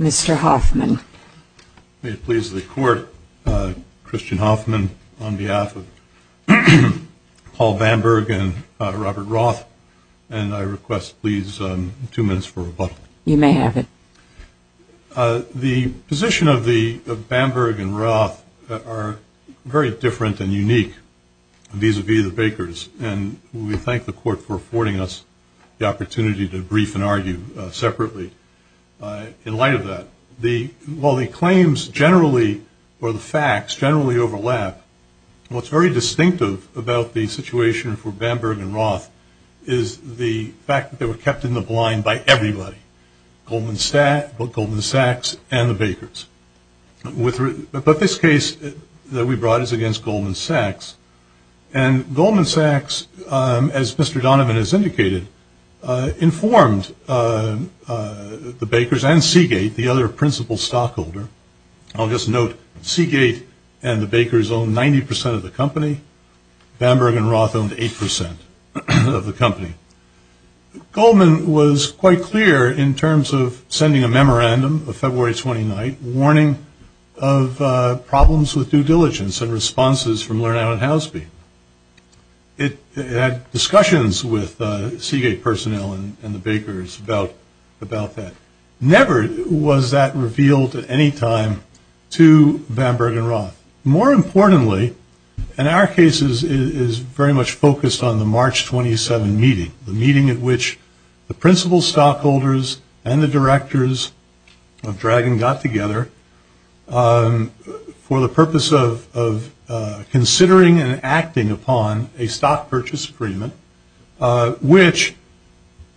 Mr. Hoffman. May it please the Court, Christian Hoffman on behalf of Paul Bamberg and Robert Roth, and I request, please, two minutes for rebuttal. You may have it. The position of Bamberg and Roth are very different and unique vis-a-vis the Bakers, and we thank the Court for affording us the opportunity to brief and argue separately. In light of that, while the claims generally, or the facts, generally overlap, what's very distinctive about the situation for Bamberg and Roth is the fact that they were kept in the blind by everybody. Goldman Sachs and the Bakers. But this case that we brought is against Goldman Sachs, and Goldman Sachs, as Mr. Donovan has indicated, informed the Bakers and Seagate, the other principal stockholder. I'll just note, Seagate and the Bakers owned 90% of the company. Bamberg and Roth owned 8% of the company. Goldman was quite clear in terms of sending a memorandum of February 29th, warning of problems with due diligence and responses from Lerner and Housby. It had discussions with Seagate personnel and the Bakers about that. Never was that revealed at any time to Bamberg and Roth. More importantly, and our case is very much focused on the March 27 meeting, the meeting at which the principal stockholders and the directors of Dragon got together for the purpose of considering and acting upon a stock purchase agreement, which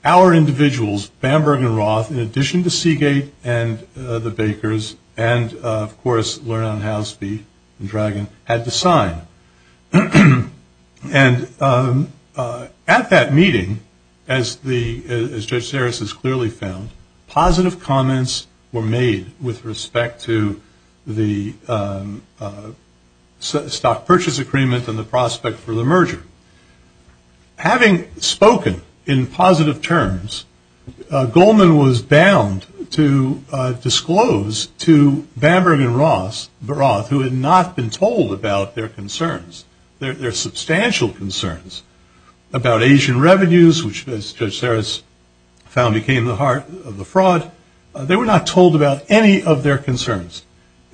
our individuals, Bamberg and Roth, in addition to Seagate and the Bakers and, of course, Lerner and Housby and Dragon had to sign. And at that meeting, as Judge Sarris has clearly found, positive comments were made with respect to the stock purchase agreement and the prospect for the merger. Having spoken in positive terms, Goldman was bound to disclose to Bamberg and Roth, who had not been told about their concerns, their substantial concerns about Asian revenues, which, as Judge Sarris found, became the heart of the fraud. They were not told about any of their concerns.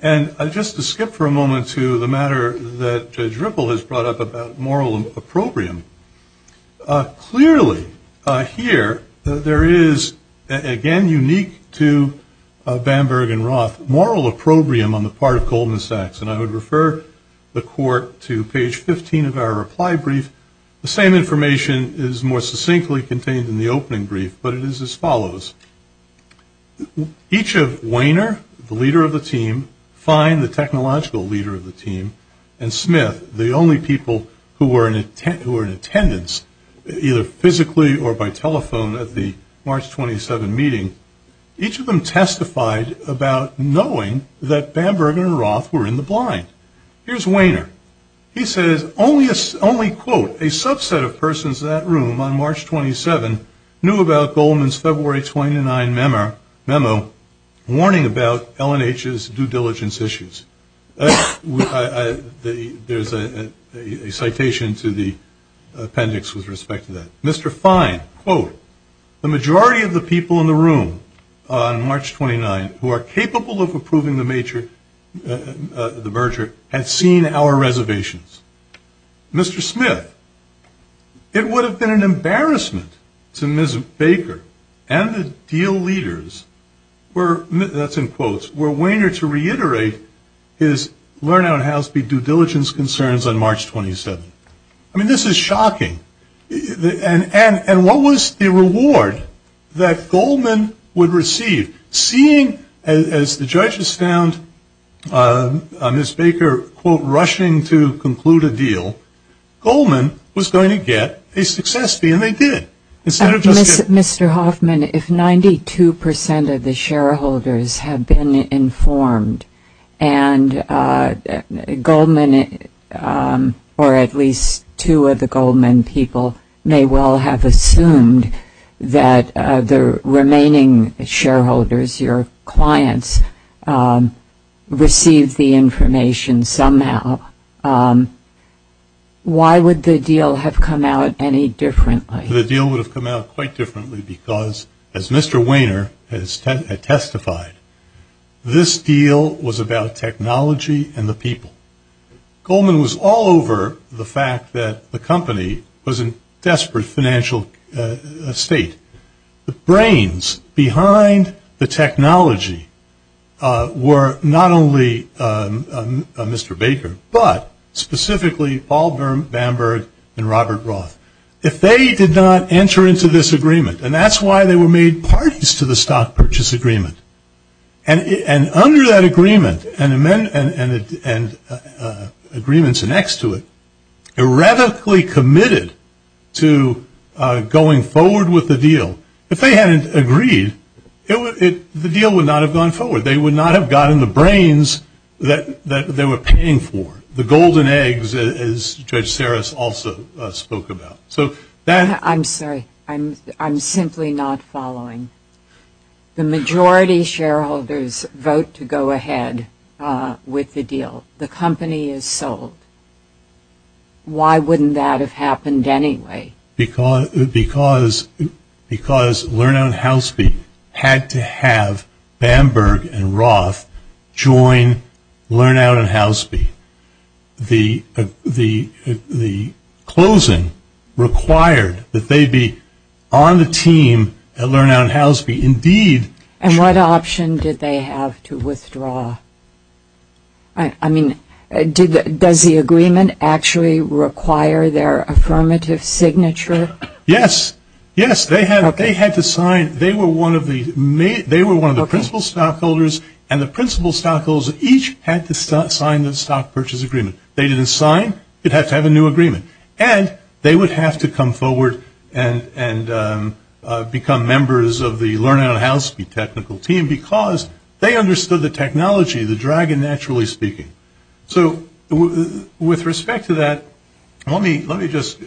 And just to skip for a moment to the matter that Judge Ripple has brought up about moral opprobrium, clearly here there is, again unique to Bamberg and Roth, moral opprobrium on the part of Goldman Sachs. And I would refer the Court to page 15 of our reply brief. The same information is more succinctly contained in the opening brief, but it is as follows. Each of Wehner, the leader of the team, Fine, the technological leader of the team, and Smith, the only people who were in attendance, either physically or by telephone at the March 27 meeting, each of them testified about knowing that Bamberg and Roth were in the blind. Here's Wehner. He says, only, quote, a subset of persons in that room on March 27 knew about Goldman's February 29 memo warning about L&H's due diligence issues. There's a citation to the appendix with respect to that. Mr. Fine, quote, the majority of the people in the room on March 29 who are capable of approving the merger had seen our reservations. Mr. Smith, it would have been an embarrassment to Ms. Baker and the deal leaders, that's in quotes, were Wehner to reiterate his L&H due diligence concerns on March 27. I mean, this is shocking. And what was the reward that Goldman would receive? Seeing, as the judges found Ms. Baker, quote, rushing to conclude a deal, Goldman was going to get a success fee, and they did. Mr. Hoffman, if 92% of the shareholders had been informed, and Goldman or at least two of the Goldman people may well have assumed that the remaining shareholders, your clients, received the information somehow, why would the deal have come out any differently? The deal would have come out quite differently because, as Mr. Wehner has testified, this deal was about technology and the people. Goldman was all over the fact that the company was in desperate financial state. The brains behind the technology were not only Mr. Baker, but specifically Paul Bamberg and Robert Roth. If they did not enter into this agreement, and that's why they were made parties to the stock purchase agreement, and under that agreement and agreements next to it, erratically committed to going forward with the deal, if they hadn't agreed, the deal would not have gone forward. They would not have gotten the brains that they were paying for, as Judge Sarris also spoke about. I'm sorry. I'm simply not following. The majority shareholders vote to go ahead with the deal. The company is sold. Why wouldn't that have happened anyway? Because Learnout and Houseby had to have Bamberg and Roth join Learnout and Houseby. The closing required that they be on the team at Learnout and Houseby. Indeed. And what option did they have to withdraw? I mean, does the agreement actually require their affirmative signature? Yes. Yes, they had to sign. They were one of the principal stockholders, and the principal stockholders each had to sign the stock purchase agreement. They didn't sign. It had to have a new agreement. And they would have to come forward and become members of the Learnout and Houseby technical team because they understood the technology, the dragon, naturally speaking. So with respect to that, let me just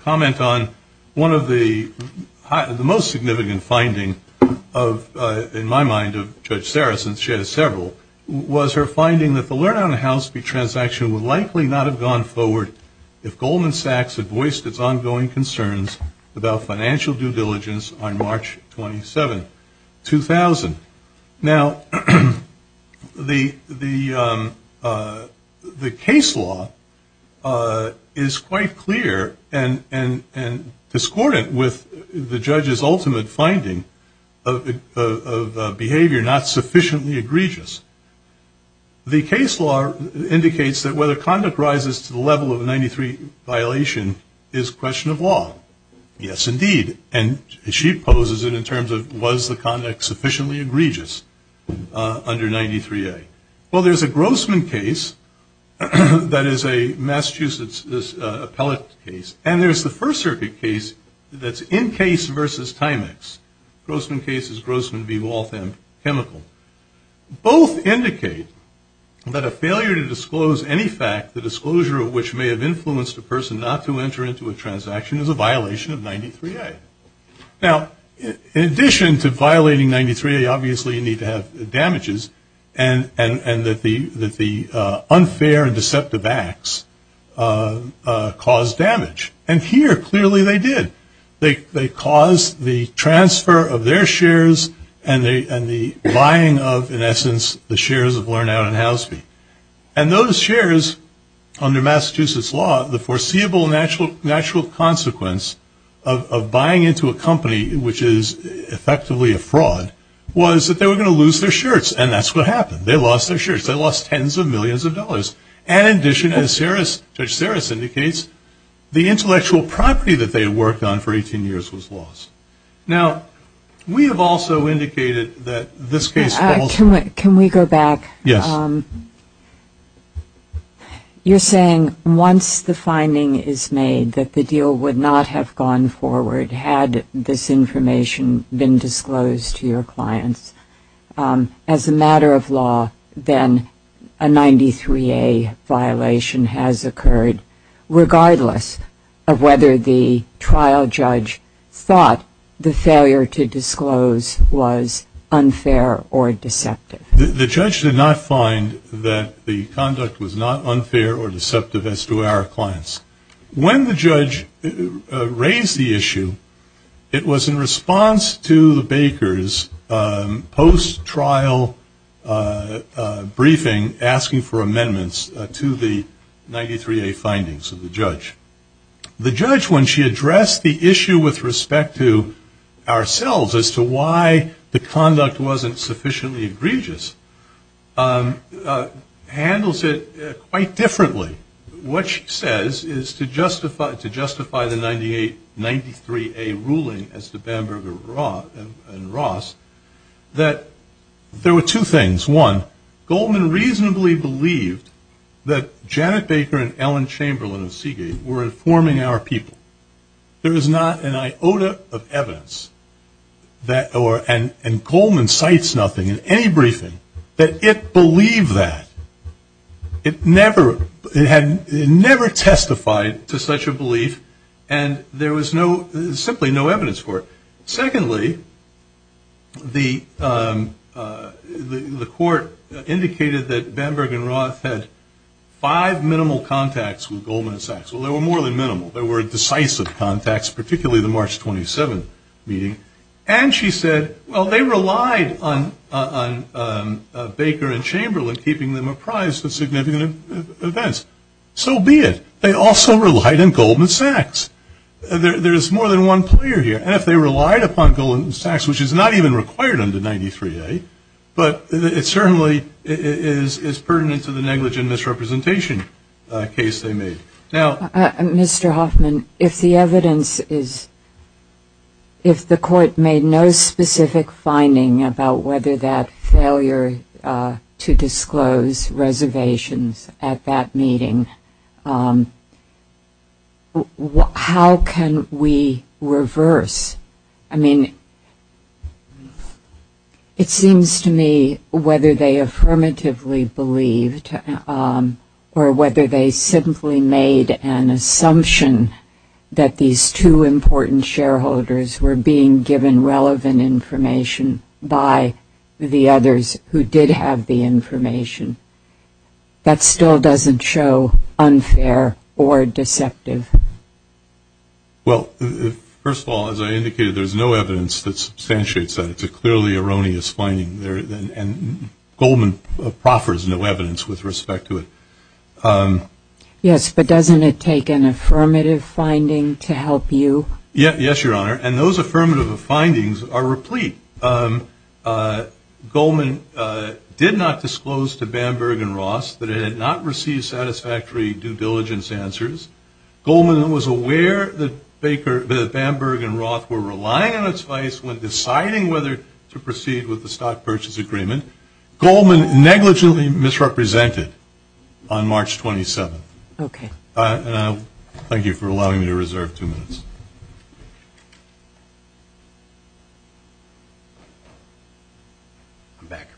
comment on one of the most significant findings, in my mind, of Judge Sarris, and she has several, was her finding that the Learnout and Houseby transaction would likely not have gone forward if Goldman Sachs had voiced its ongoing concerns about financial due diligence on March 27, 2000. Now, the case law is quite clear and discordant with the judge's ultimate finding of behavior not sufficiently egregious. The case law indicates that whether conduct rises to the level of a 93 violation is a question of law. Yes, indeed. And she poses it in terms of was the conduct sufficiently egregious under 93A. Well, there's a Grossman case that is a Massachusetts appellate case, and there's the First Circuit case that's in case versus timex. Grossman case is Grossman v. Waltham chemical. Both indicate that a failure to disclose any fact, the disclosure of which may have influenced a person not to enter into a transaction, is a violation of 93A. Now, in addition to violating 93A, obviously you need to have damages, and that the unfair and deceptive acts cause damage. And here, clearly, they did. They caused the transfer of their shares and the buying of, in essence, the shares of LearnOut and Houseby. And those shares, under Massachusetts law, the foreseeable natural consequence of buying into a company, which is effectively a fraud, was that they were going to lose their shirts. And that's what happened. They lost their shirts. They lost tens of millions of dollars. And, in addition, as Judge Saris indicates, the intellectual property that they had worked on for 18 years was lost. Now, we have also indicated that this case falls out. Can we go back? Yes. You're saying once the finding is made that the deal would not have gone forward had this information been disclosed to your clients, as a matter of law, then a 93A violation has occurred, regardless of whether the trial judge thought the failure to disclose was unfair or deceptive. The judge did not find that the conduct was not unfair or deceptive as to our clients. When the judge raised the issue, it was in response to the Baker's post-trial briefing, asking for amendments to the 93A findings of the judge. The judge, when she addressed the issue with respect to ourselves, as to why the conduct wasn't sufficiently egregious, handles it quite differently. What she says is to justify the 93A ruling as to Bamberg and Ross, that there were two things. One, Goldman reasonably believed that Janet Baker and Ellen Chamberlain of Seagate were informing our people. There is not an iota of evidence, and Goldman cites nothing in any briefing, that it believed that. It never testified to such a belief, and there was simply no evidence for it. Secondly, the court indicated that Bamberg and Ross had five minimal contacts with Goldman and Sachs. Well, they were more than minimal. They were decisive contacts, particularly the March 27th meeting. And she said, well, they relied on Baker and Chamberlain keeping them apprised of significant events. So be it. They also relied on Goldman Sachs. There is more than one player here. And if they relied upon Goldman Sachs, which is not even required under 93A, but it certainly is pertinent to the negligent misrepresentation case they made. Mr. Hoffman, if the evidence is, if the court made no specific finding about whether that failure to disclose reservations at that meeting, how can we reverse, I mean, it seems to me whether they affirmatively believed or whether they simply made an assumption that these two important shareholders were being given relevant information by the others who did have the information. That still doesn't show unfair or deceptive. Well, first of all, as I indicated, there's no evidence that substantiates that. It's a clearly erroneous finding. And Goldman proffers no evidence with respect to it. Yes, but doesn't it take an affirmative finding to help you? Yes, Your Honor. And those affirmative findings are replete. Goldman did not disclose to Bamberg and Roth that it had not received satisfactory due diligence answers. Goldman was aware that Bamberg and Roth were relying on its vice when deciding whether to proceed with the stock purchase agreement. Goldman negligently misrepresented on March 27th. Okay. Thank you for allowing me to reserve two minutes. I'm back.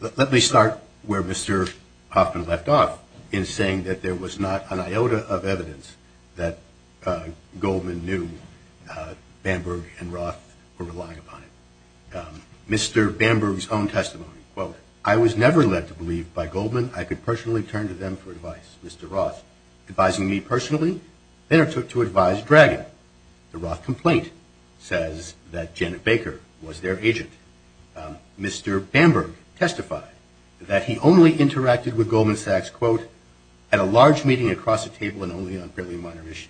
Let me start where Mr. Hoffman left off in saying that there was not an iota of evidence that Goldman knew Bamberg and Roth were relying upon it. Mr. Bamberg's own testimony, quote, I was never led to believe by Goldman I could personally turn to them for advice. Mr. Roth advising me personally, they are to advise Dragon. The Roth complaint says that Janet Baker was their agent. Mr. Bamberg testified that he only interacted with Goldman Sachs, quote, at a large meeting across the table and only on fairly minor issues.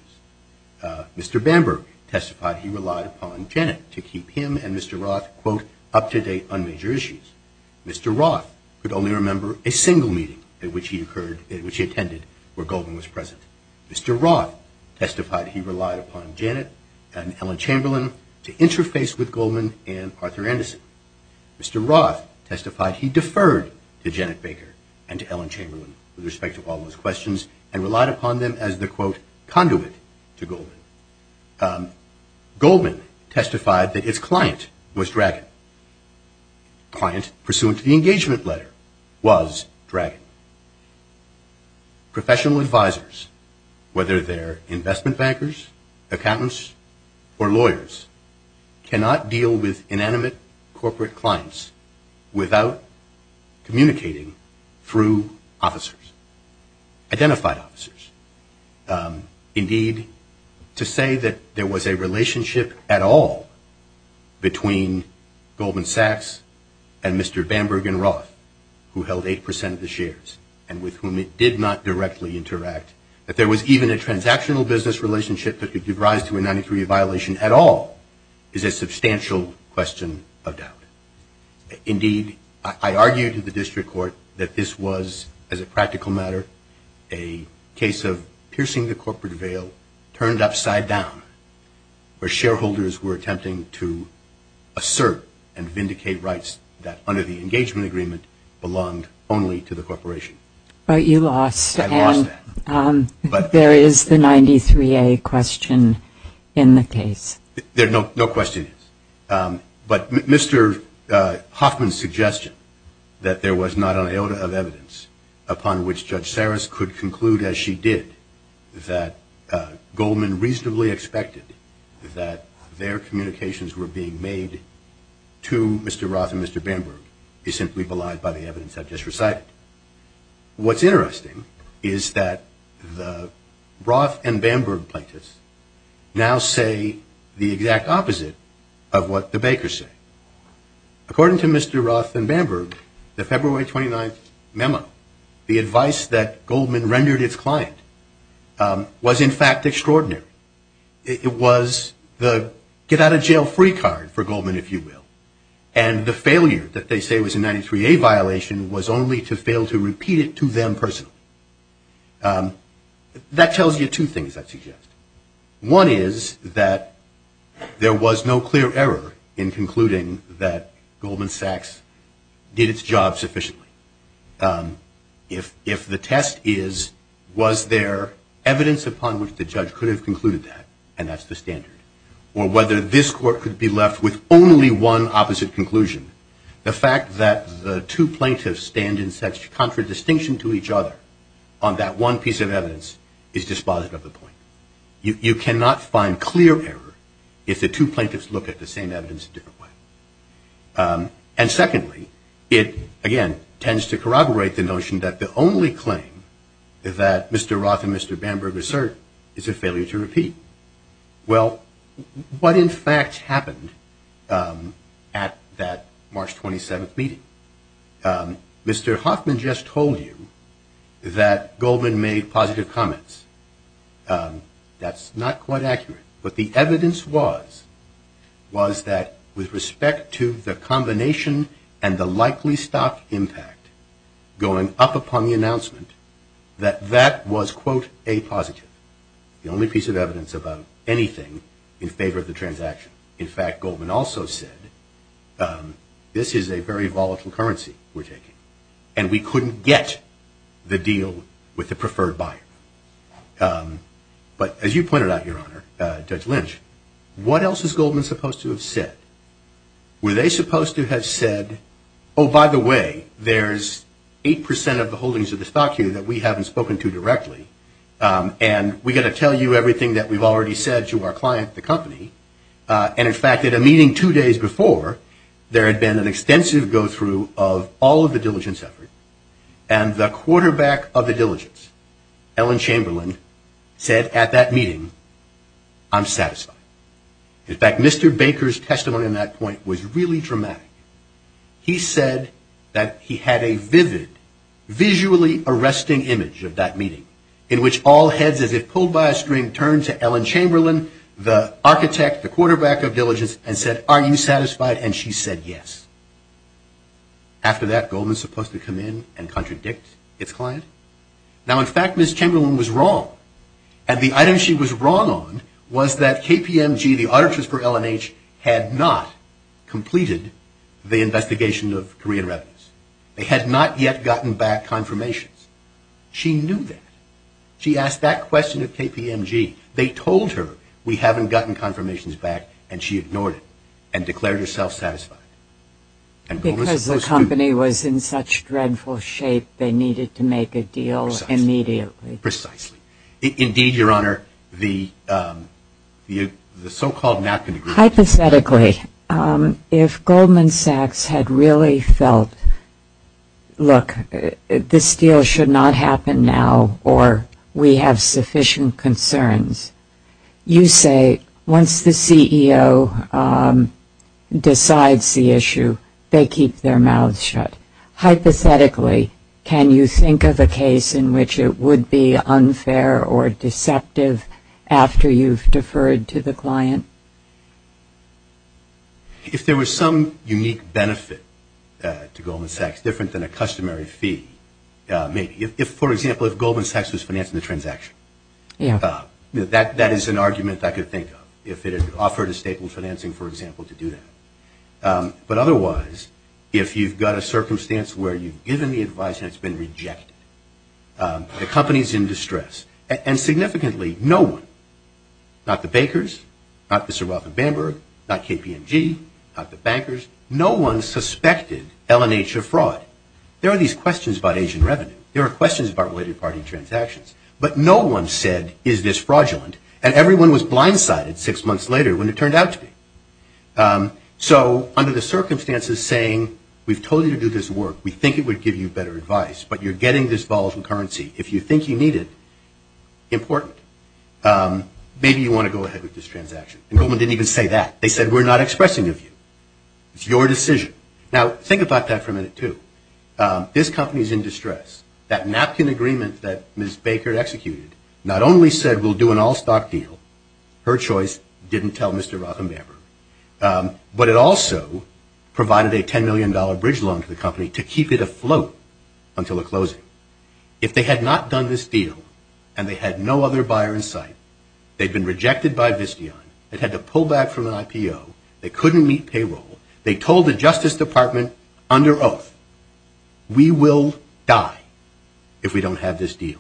Mr. Bamberg testified he relied upon Janet to keep him and Mr. Roth, quote, up to date on major issues. Mr. Roth could only remember a single meeting at which he attended where Goldman was present. Mr. Roth testified he relied upon Janet and Ellen Chamberlain to interface with Goldman and Arthur Anderson. Mr. Roth testified he deferred to Janet Baker and to Ellen Chamberlain with respect to all those questions and relied upon them as the, quote, conduit to Goldman. Goldman testified that its client was Dragon. The client, pursuant to the engagement letter, was Dragon. Professional advisors, whether they're investment bankers, accountants, or lawyers, cannot deal with inanimate corporate clients without communicating through officers, identified officers. Indeed, to say that there was a relationship at all between Goldman Sachs and Mr. Bamberg and Roth, who held 8% of the shares and with whom it did not directly interact, that there was even a transactional business relationship that could give rise to a 93-day violation at all, is a substantial question of doubt. Indeed, I argue to the district court that this was, as a practical matter, a case of piercing the corporate veil, turned upside down, where shareholders were attempting to assert and vindicate rights that, under the engagement agreement, belonged only to the corporation. But you lost. I lost that. But there is the 93-A question in the case. There are no questions. But Mr. Hoffman's suggestion that there was not an iota of evidence upon which Judge Saris could conclude, as she did, that Goldman reasonably expected that their communications were being made to Mr. Roth and Mr. Bamberg is simply belied by the evidence I've just recited. What's interesting is that the Roth and Bamberg plaintiffs now say the exact opposite of what the Bakers say. According to Mr. Roth and Bamberg, the February 29th memo, the advice that Goldman rendered its client, was in fact extraordinary. It was the get-out-of-jail-free card for Goldman, if you will. And the failure that they say was a 93-A violation was only to fail to repeat it to them personally. That tells you two things, I suggest. One is that there was no clear error in concluding that Goldman Sachs did its job sufficiently. If the test is, was there evidence upon which the judge could have concluded that, and that's the standard, or whether this court could be left with only one opposite conclusion, the fact that the two plaintiffs stand in such contradistinction to each other on that one piece of evidence is dispositive of the point. You cannot find clear error if the two plaintiffs look at the same evidence a different way. And secondly, it, again, tends to corroborate the notion that the only claim that Mr. Roth and Mr. Bamberg assert is a failure to repeat. Well, what in fact happened at that March 27th meeting? Mr. Hoffman just told you that Goldman made positive comments. That's not quite accurate. But the evidence was, was that with respect to the combination and the likely stock impact going up upon the announcement, that that was, quote, a positive. The only piece of evidence about anything in favor of the transaction. In fact, Goldman also said, this is a very volatile currency we're taking, and we couldn't get the deal with the preferred buyer. But as you pointed out, Your Honor, Judge Lynch, what else is Goldman supposed to have said? Were they supposed to have said, oh, by the way, there's 8% of the holdings of the stock here that we haven't spoken to directly, and we've got to tell you everything that we've already said to our client, the company. And in fact, at a meeting two days before, there had been an extensive go-through of all of the diligence effort, and the quarterback of the diligence, Ellen Chamberlain, said at that meeting, I'm satisfied. In fact, Mr. Baker's testimony in that point was really dramatic. He said that he had a vivid, visually arresting image of that meeting, in which all heads as if pulled by a string turned to Ellen Chamberlain, the architect, the quarterback of diligence, and said, are you satisfied? And she said yes. After that, Goldman's supposed to come in and contradict its client. Now, in fact, Ms. Chamberlain was wrong. And the item she was wrong on was that KPMG, the auditors for L&H, had not completed the investigation of Korean revenues. They had not yet gotten back confirmations. She knew that. She asked that question of KPMG. They told her, we haven't gotten confirmations back, and she ignored it and declared herself satisfied. Because the company was in such dreadful shape, they needed to make a deal immediately. Precisely. Indeed, Your Honor, the so-called napkin agreement. Hypothetically, if Goldman Sachs had really felt, look, this deal should not happen now, or we have sufficient concerns, you say, once the CEO decides the issue, they keep their mouths shut. Hypothetically, can you think of a case in which it would be unfair or deceptive after you've deferred to the client? If there was some unique benefit to Goldman Sachs, different than a customary fee, maybe. For example, if Goldman Sachs was financing the transaction, that is an argument I could think of, if it had offered a staple financing, for example, to do that. But otherwise, if you've got a circumstance where you've given the advice and it's been rejected, the company's in distress. And significantly, no one, not the Bakers, not the Sir Rothenberg, not KPMG, not the bankers, no one suspected LNH of fraud. There are these questions about Asian revenue. There are questions about weighted party transactions. But no one said, is this fraudulent? And everyone was blindsided six months later when it turned out to be. So under the circumstances saying, we've told you to do this work, we think it would give you better advice, but you're getting this volatile currency. If you think you need it, important. Maybe you want to go ahead with this transaction. And Goldman didn't even say that. They said, we're not expressing a view. It's your decision. Now, think about that for a minute, too. This company's in distress. That napkin agreement that Ms. Baker executed not only said we'll do an all-stock deal, her choice didn't tell Mr. Rothenberg, but it also provided a $10 million bridge loan to the company to keep it afloat until a closing. If they had not done this deal and they had no other buyer in sight, they'd been rejected by Visteon. They'd had to pull back from an IPO. They couldn't meet payroll. They told the Justice Department under oath, we will die if we don't have this deal.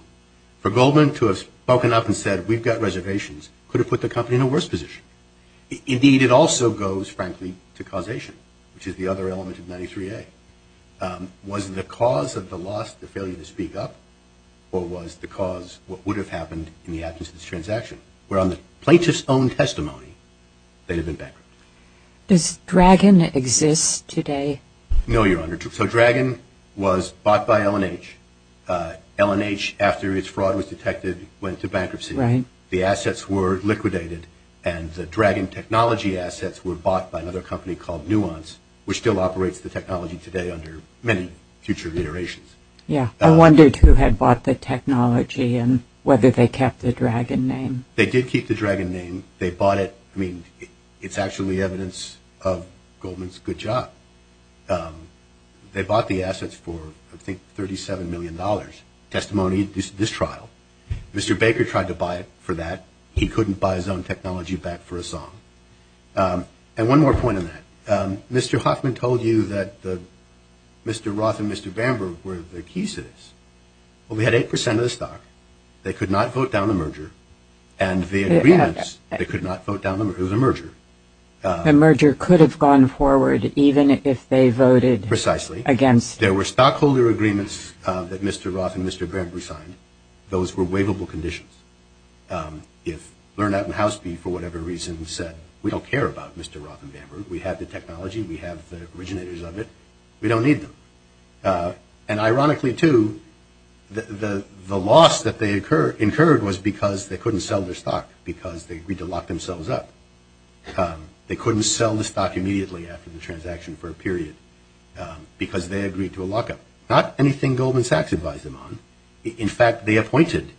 For Goldman to have spoken up and said, we've got reservations, could have put the company in a worse position. Indeed, it also goes, frankly, to causation, which is the other element of 93A. Was the cause of the loss the failure to speak up, or was the cause what would have happened in the absence of this transaction, where on the plaintiff's own testimony they'd have been bankrupt? Does Dragon exist today? No, Your Honor. So Dragon was bought by L&H. L&H, after its fraud was detected, went into bankruptcy. The assets were liquidated, and the Dragon technology assets were bought by another company called Nuance, which still operates the technology today under many future reiterations. Yes. I wondered who had bought the technology and whether they kept the Dragon name. They did keep the Dragon name. They bought it. I mean, it's actually evidence of Goldman's good job. They bought the assets for, I think, $37 million. Testimony, this trial. Mr. Baker tried to buy it for that. He couldn't buy his own technology back for a song. And one more point on that. Mr. Hoffman told you that Mr. Roth and Mr. Bamberg were the key citizens. Well, we had 8% of the stock. They could not vote down the merger. And the agreements, they could not vote down the merger. It was a merger. The merger could have gone forward even if they voted against. Precisely. There were stockholder agreements that Mr. Roth and Mr. Bamberg signed. Those were waivable conditions. If Lernat and Houseby, for whatever reason, said, we don't care about Mr. Roth and Bamberg. We have the technology. We have the originators of it. We don't need them. And ironically, too, the loss that they incurred was because they couldn't sell their stock, because they agreed to lock themselves up. They couldn't sell the stock immediately after the transaction for a period, because they agreed to a lockup. Not anything Goldman Sachs advised them on. In fact, they appointed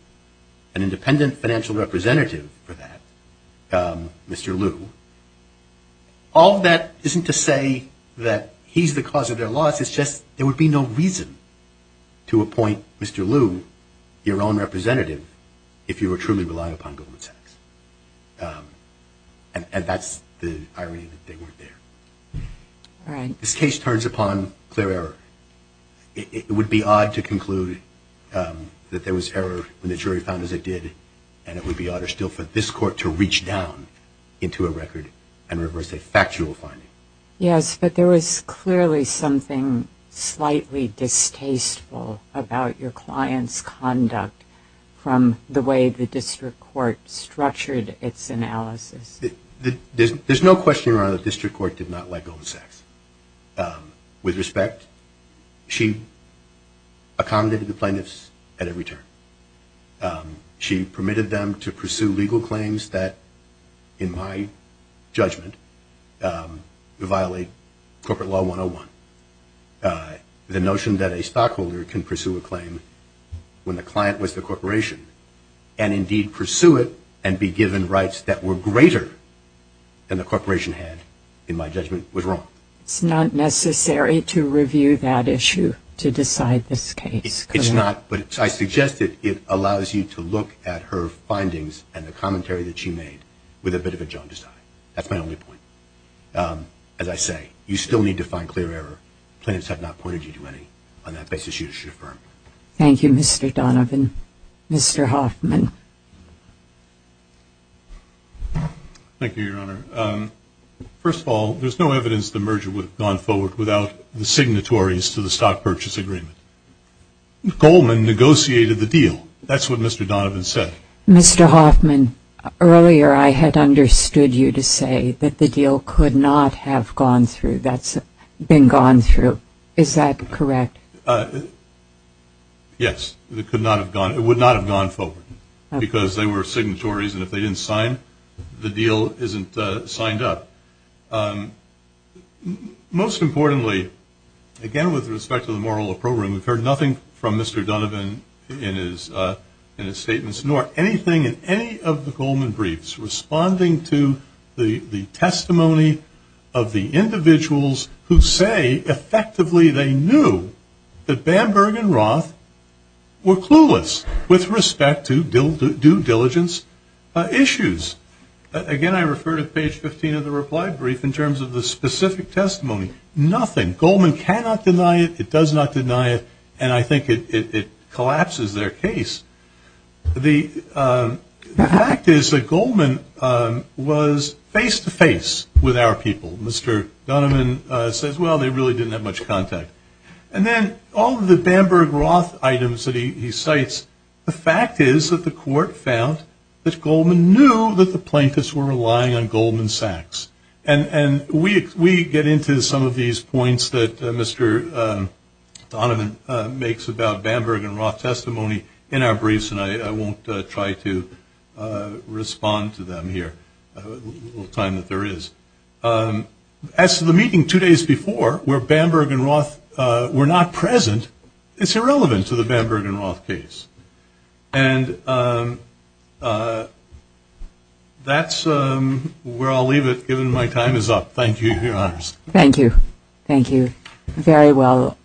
an independent financial representative for that, Mr. Lu. All of that isn't to say that he's the cause of their loss. It's just there would be no reason to appoint Mr. Lu, your own representative, if you were truly relying upon Goldman Sachs. And that's the irony that they weren't there. This case turns upon clear error. It would be odd to conclude that there was error when the jury found as it did, and it would be odder still for this court to reach down into a record and reverse a factual finding. Yes, but there was clearly something slightly distasteful about your client's conduct from the way the district court structured its analysis. There's no question, Your Honor, the district court did not like Goldman Sachs. With respect, she accommodated the plaintiffs at every turn. She permitted them to pursue legal claims that, in my judgment, violate Corporate Law 101. The notion that a stockholder can pursue a claim when the client was the corporation and indeed pursue it and be given rights that were greater than the corporation had, in my judgment, was wrong. It's not necessary to review that issue to decide this case. It's not, but I suggest that it allows you to look at her findings and the commentary that she made with a bit of a jaundice eye. That's my only point. As I say, you still need to find clear error. Plaintiffs have not pointed you to any on that basis you should affirm. Thank you, Mr. Donovan. Mr. Hoffman. Thank you, Your Honor. First of all, there's no evidence the merger would have gone forward without the signatories to the stock purchase agreement. Goldman negotiated the deal. That's what Mr. Donovan said. Mr. Hoffman, earlier I had understood you to say that the deal could not have gone through. That's been gone through. Is that correct? Yes, it would not have gone forward because they were signatories, and if they didn't sign, the deal isn't signed up. Most importantly, again with respect to the moral of the program, we've heard nothing from Mr. Donovan in his statements, nor anything in any of the Goldman briefs responding to the testimony of the individuals who say effectively they knew that Bamberg and Roth were clueless with respect to due diligence issues. Again, I refer to page 15 of the reply brief in terms of the specific testimony. Nothing. Goldman cannot deny it. It does not deny it, and I think it collapses their case. The fact is that Goldman was face-to-face with our people. Mr. Donovan says, well, they really didn't have much contact. And then all of the Bamberg-Roth items that he cites, the fact is that the court found that Goldman knew that the plaintiffs were relying on Goldman Sachs. And we get into some of these points that Mr. Donovan makes about Bamberg and Roth testimony in our briefs, and I won't try to respond to them here. I have a little time that there is. As to the meeting two days before where Bamberg and Roth were not present, it's irrelevant to the Bamberg and Roth case. And that's where I'll leave it, given my time is up. Thank you, Your Honors. Thank you. Thank you very well.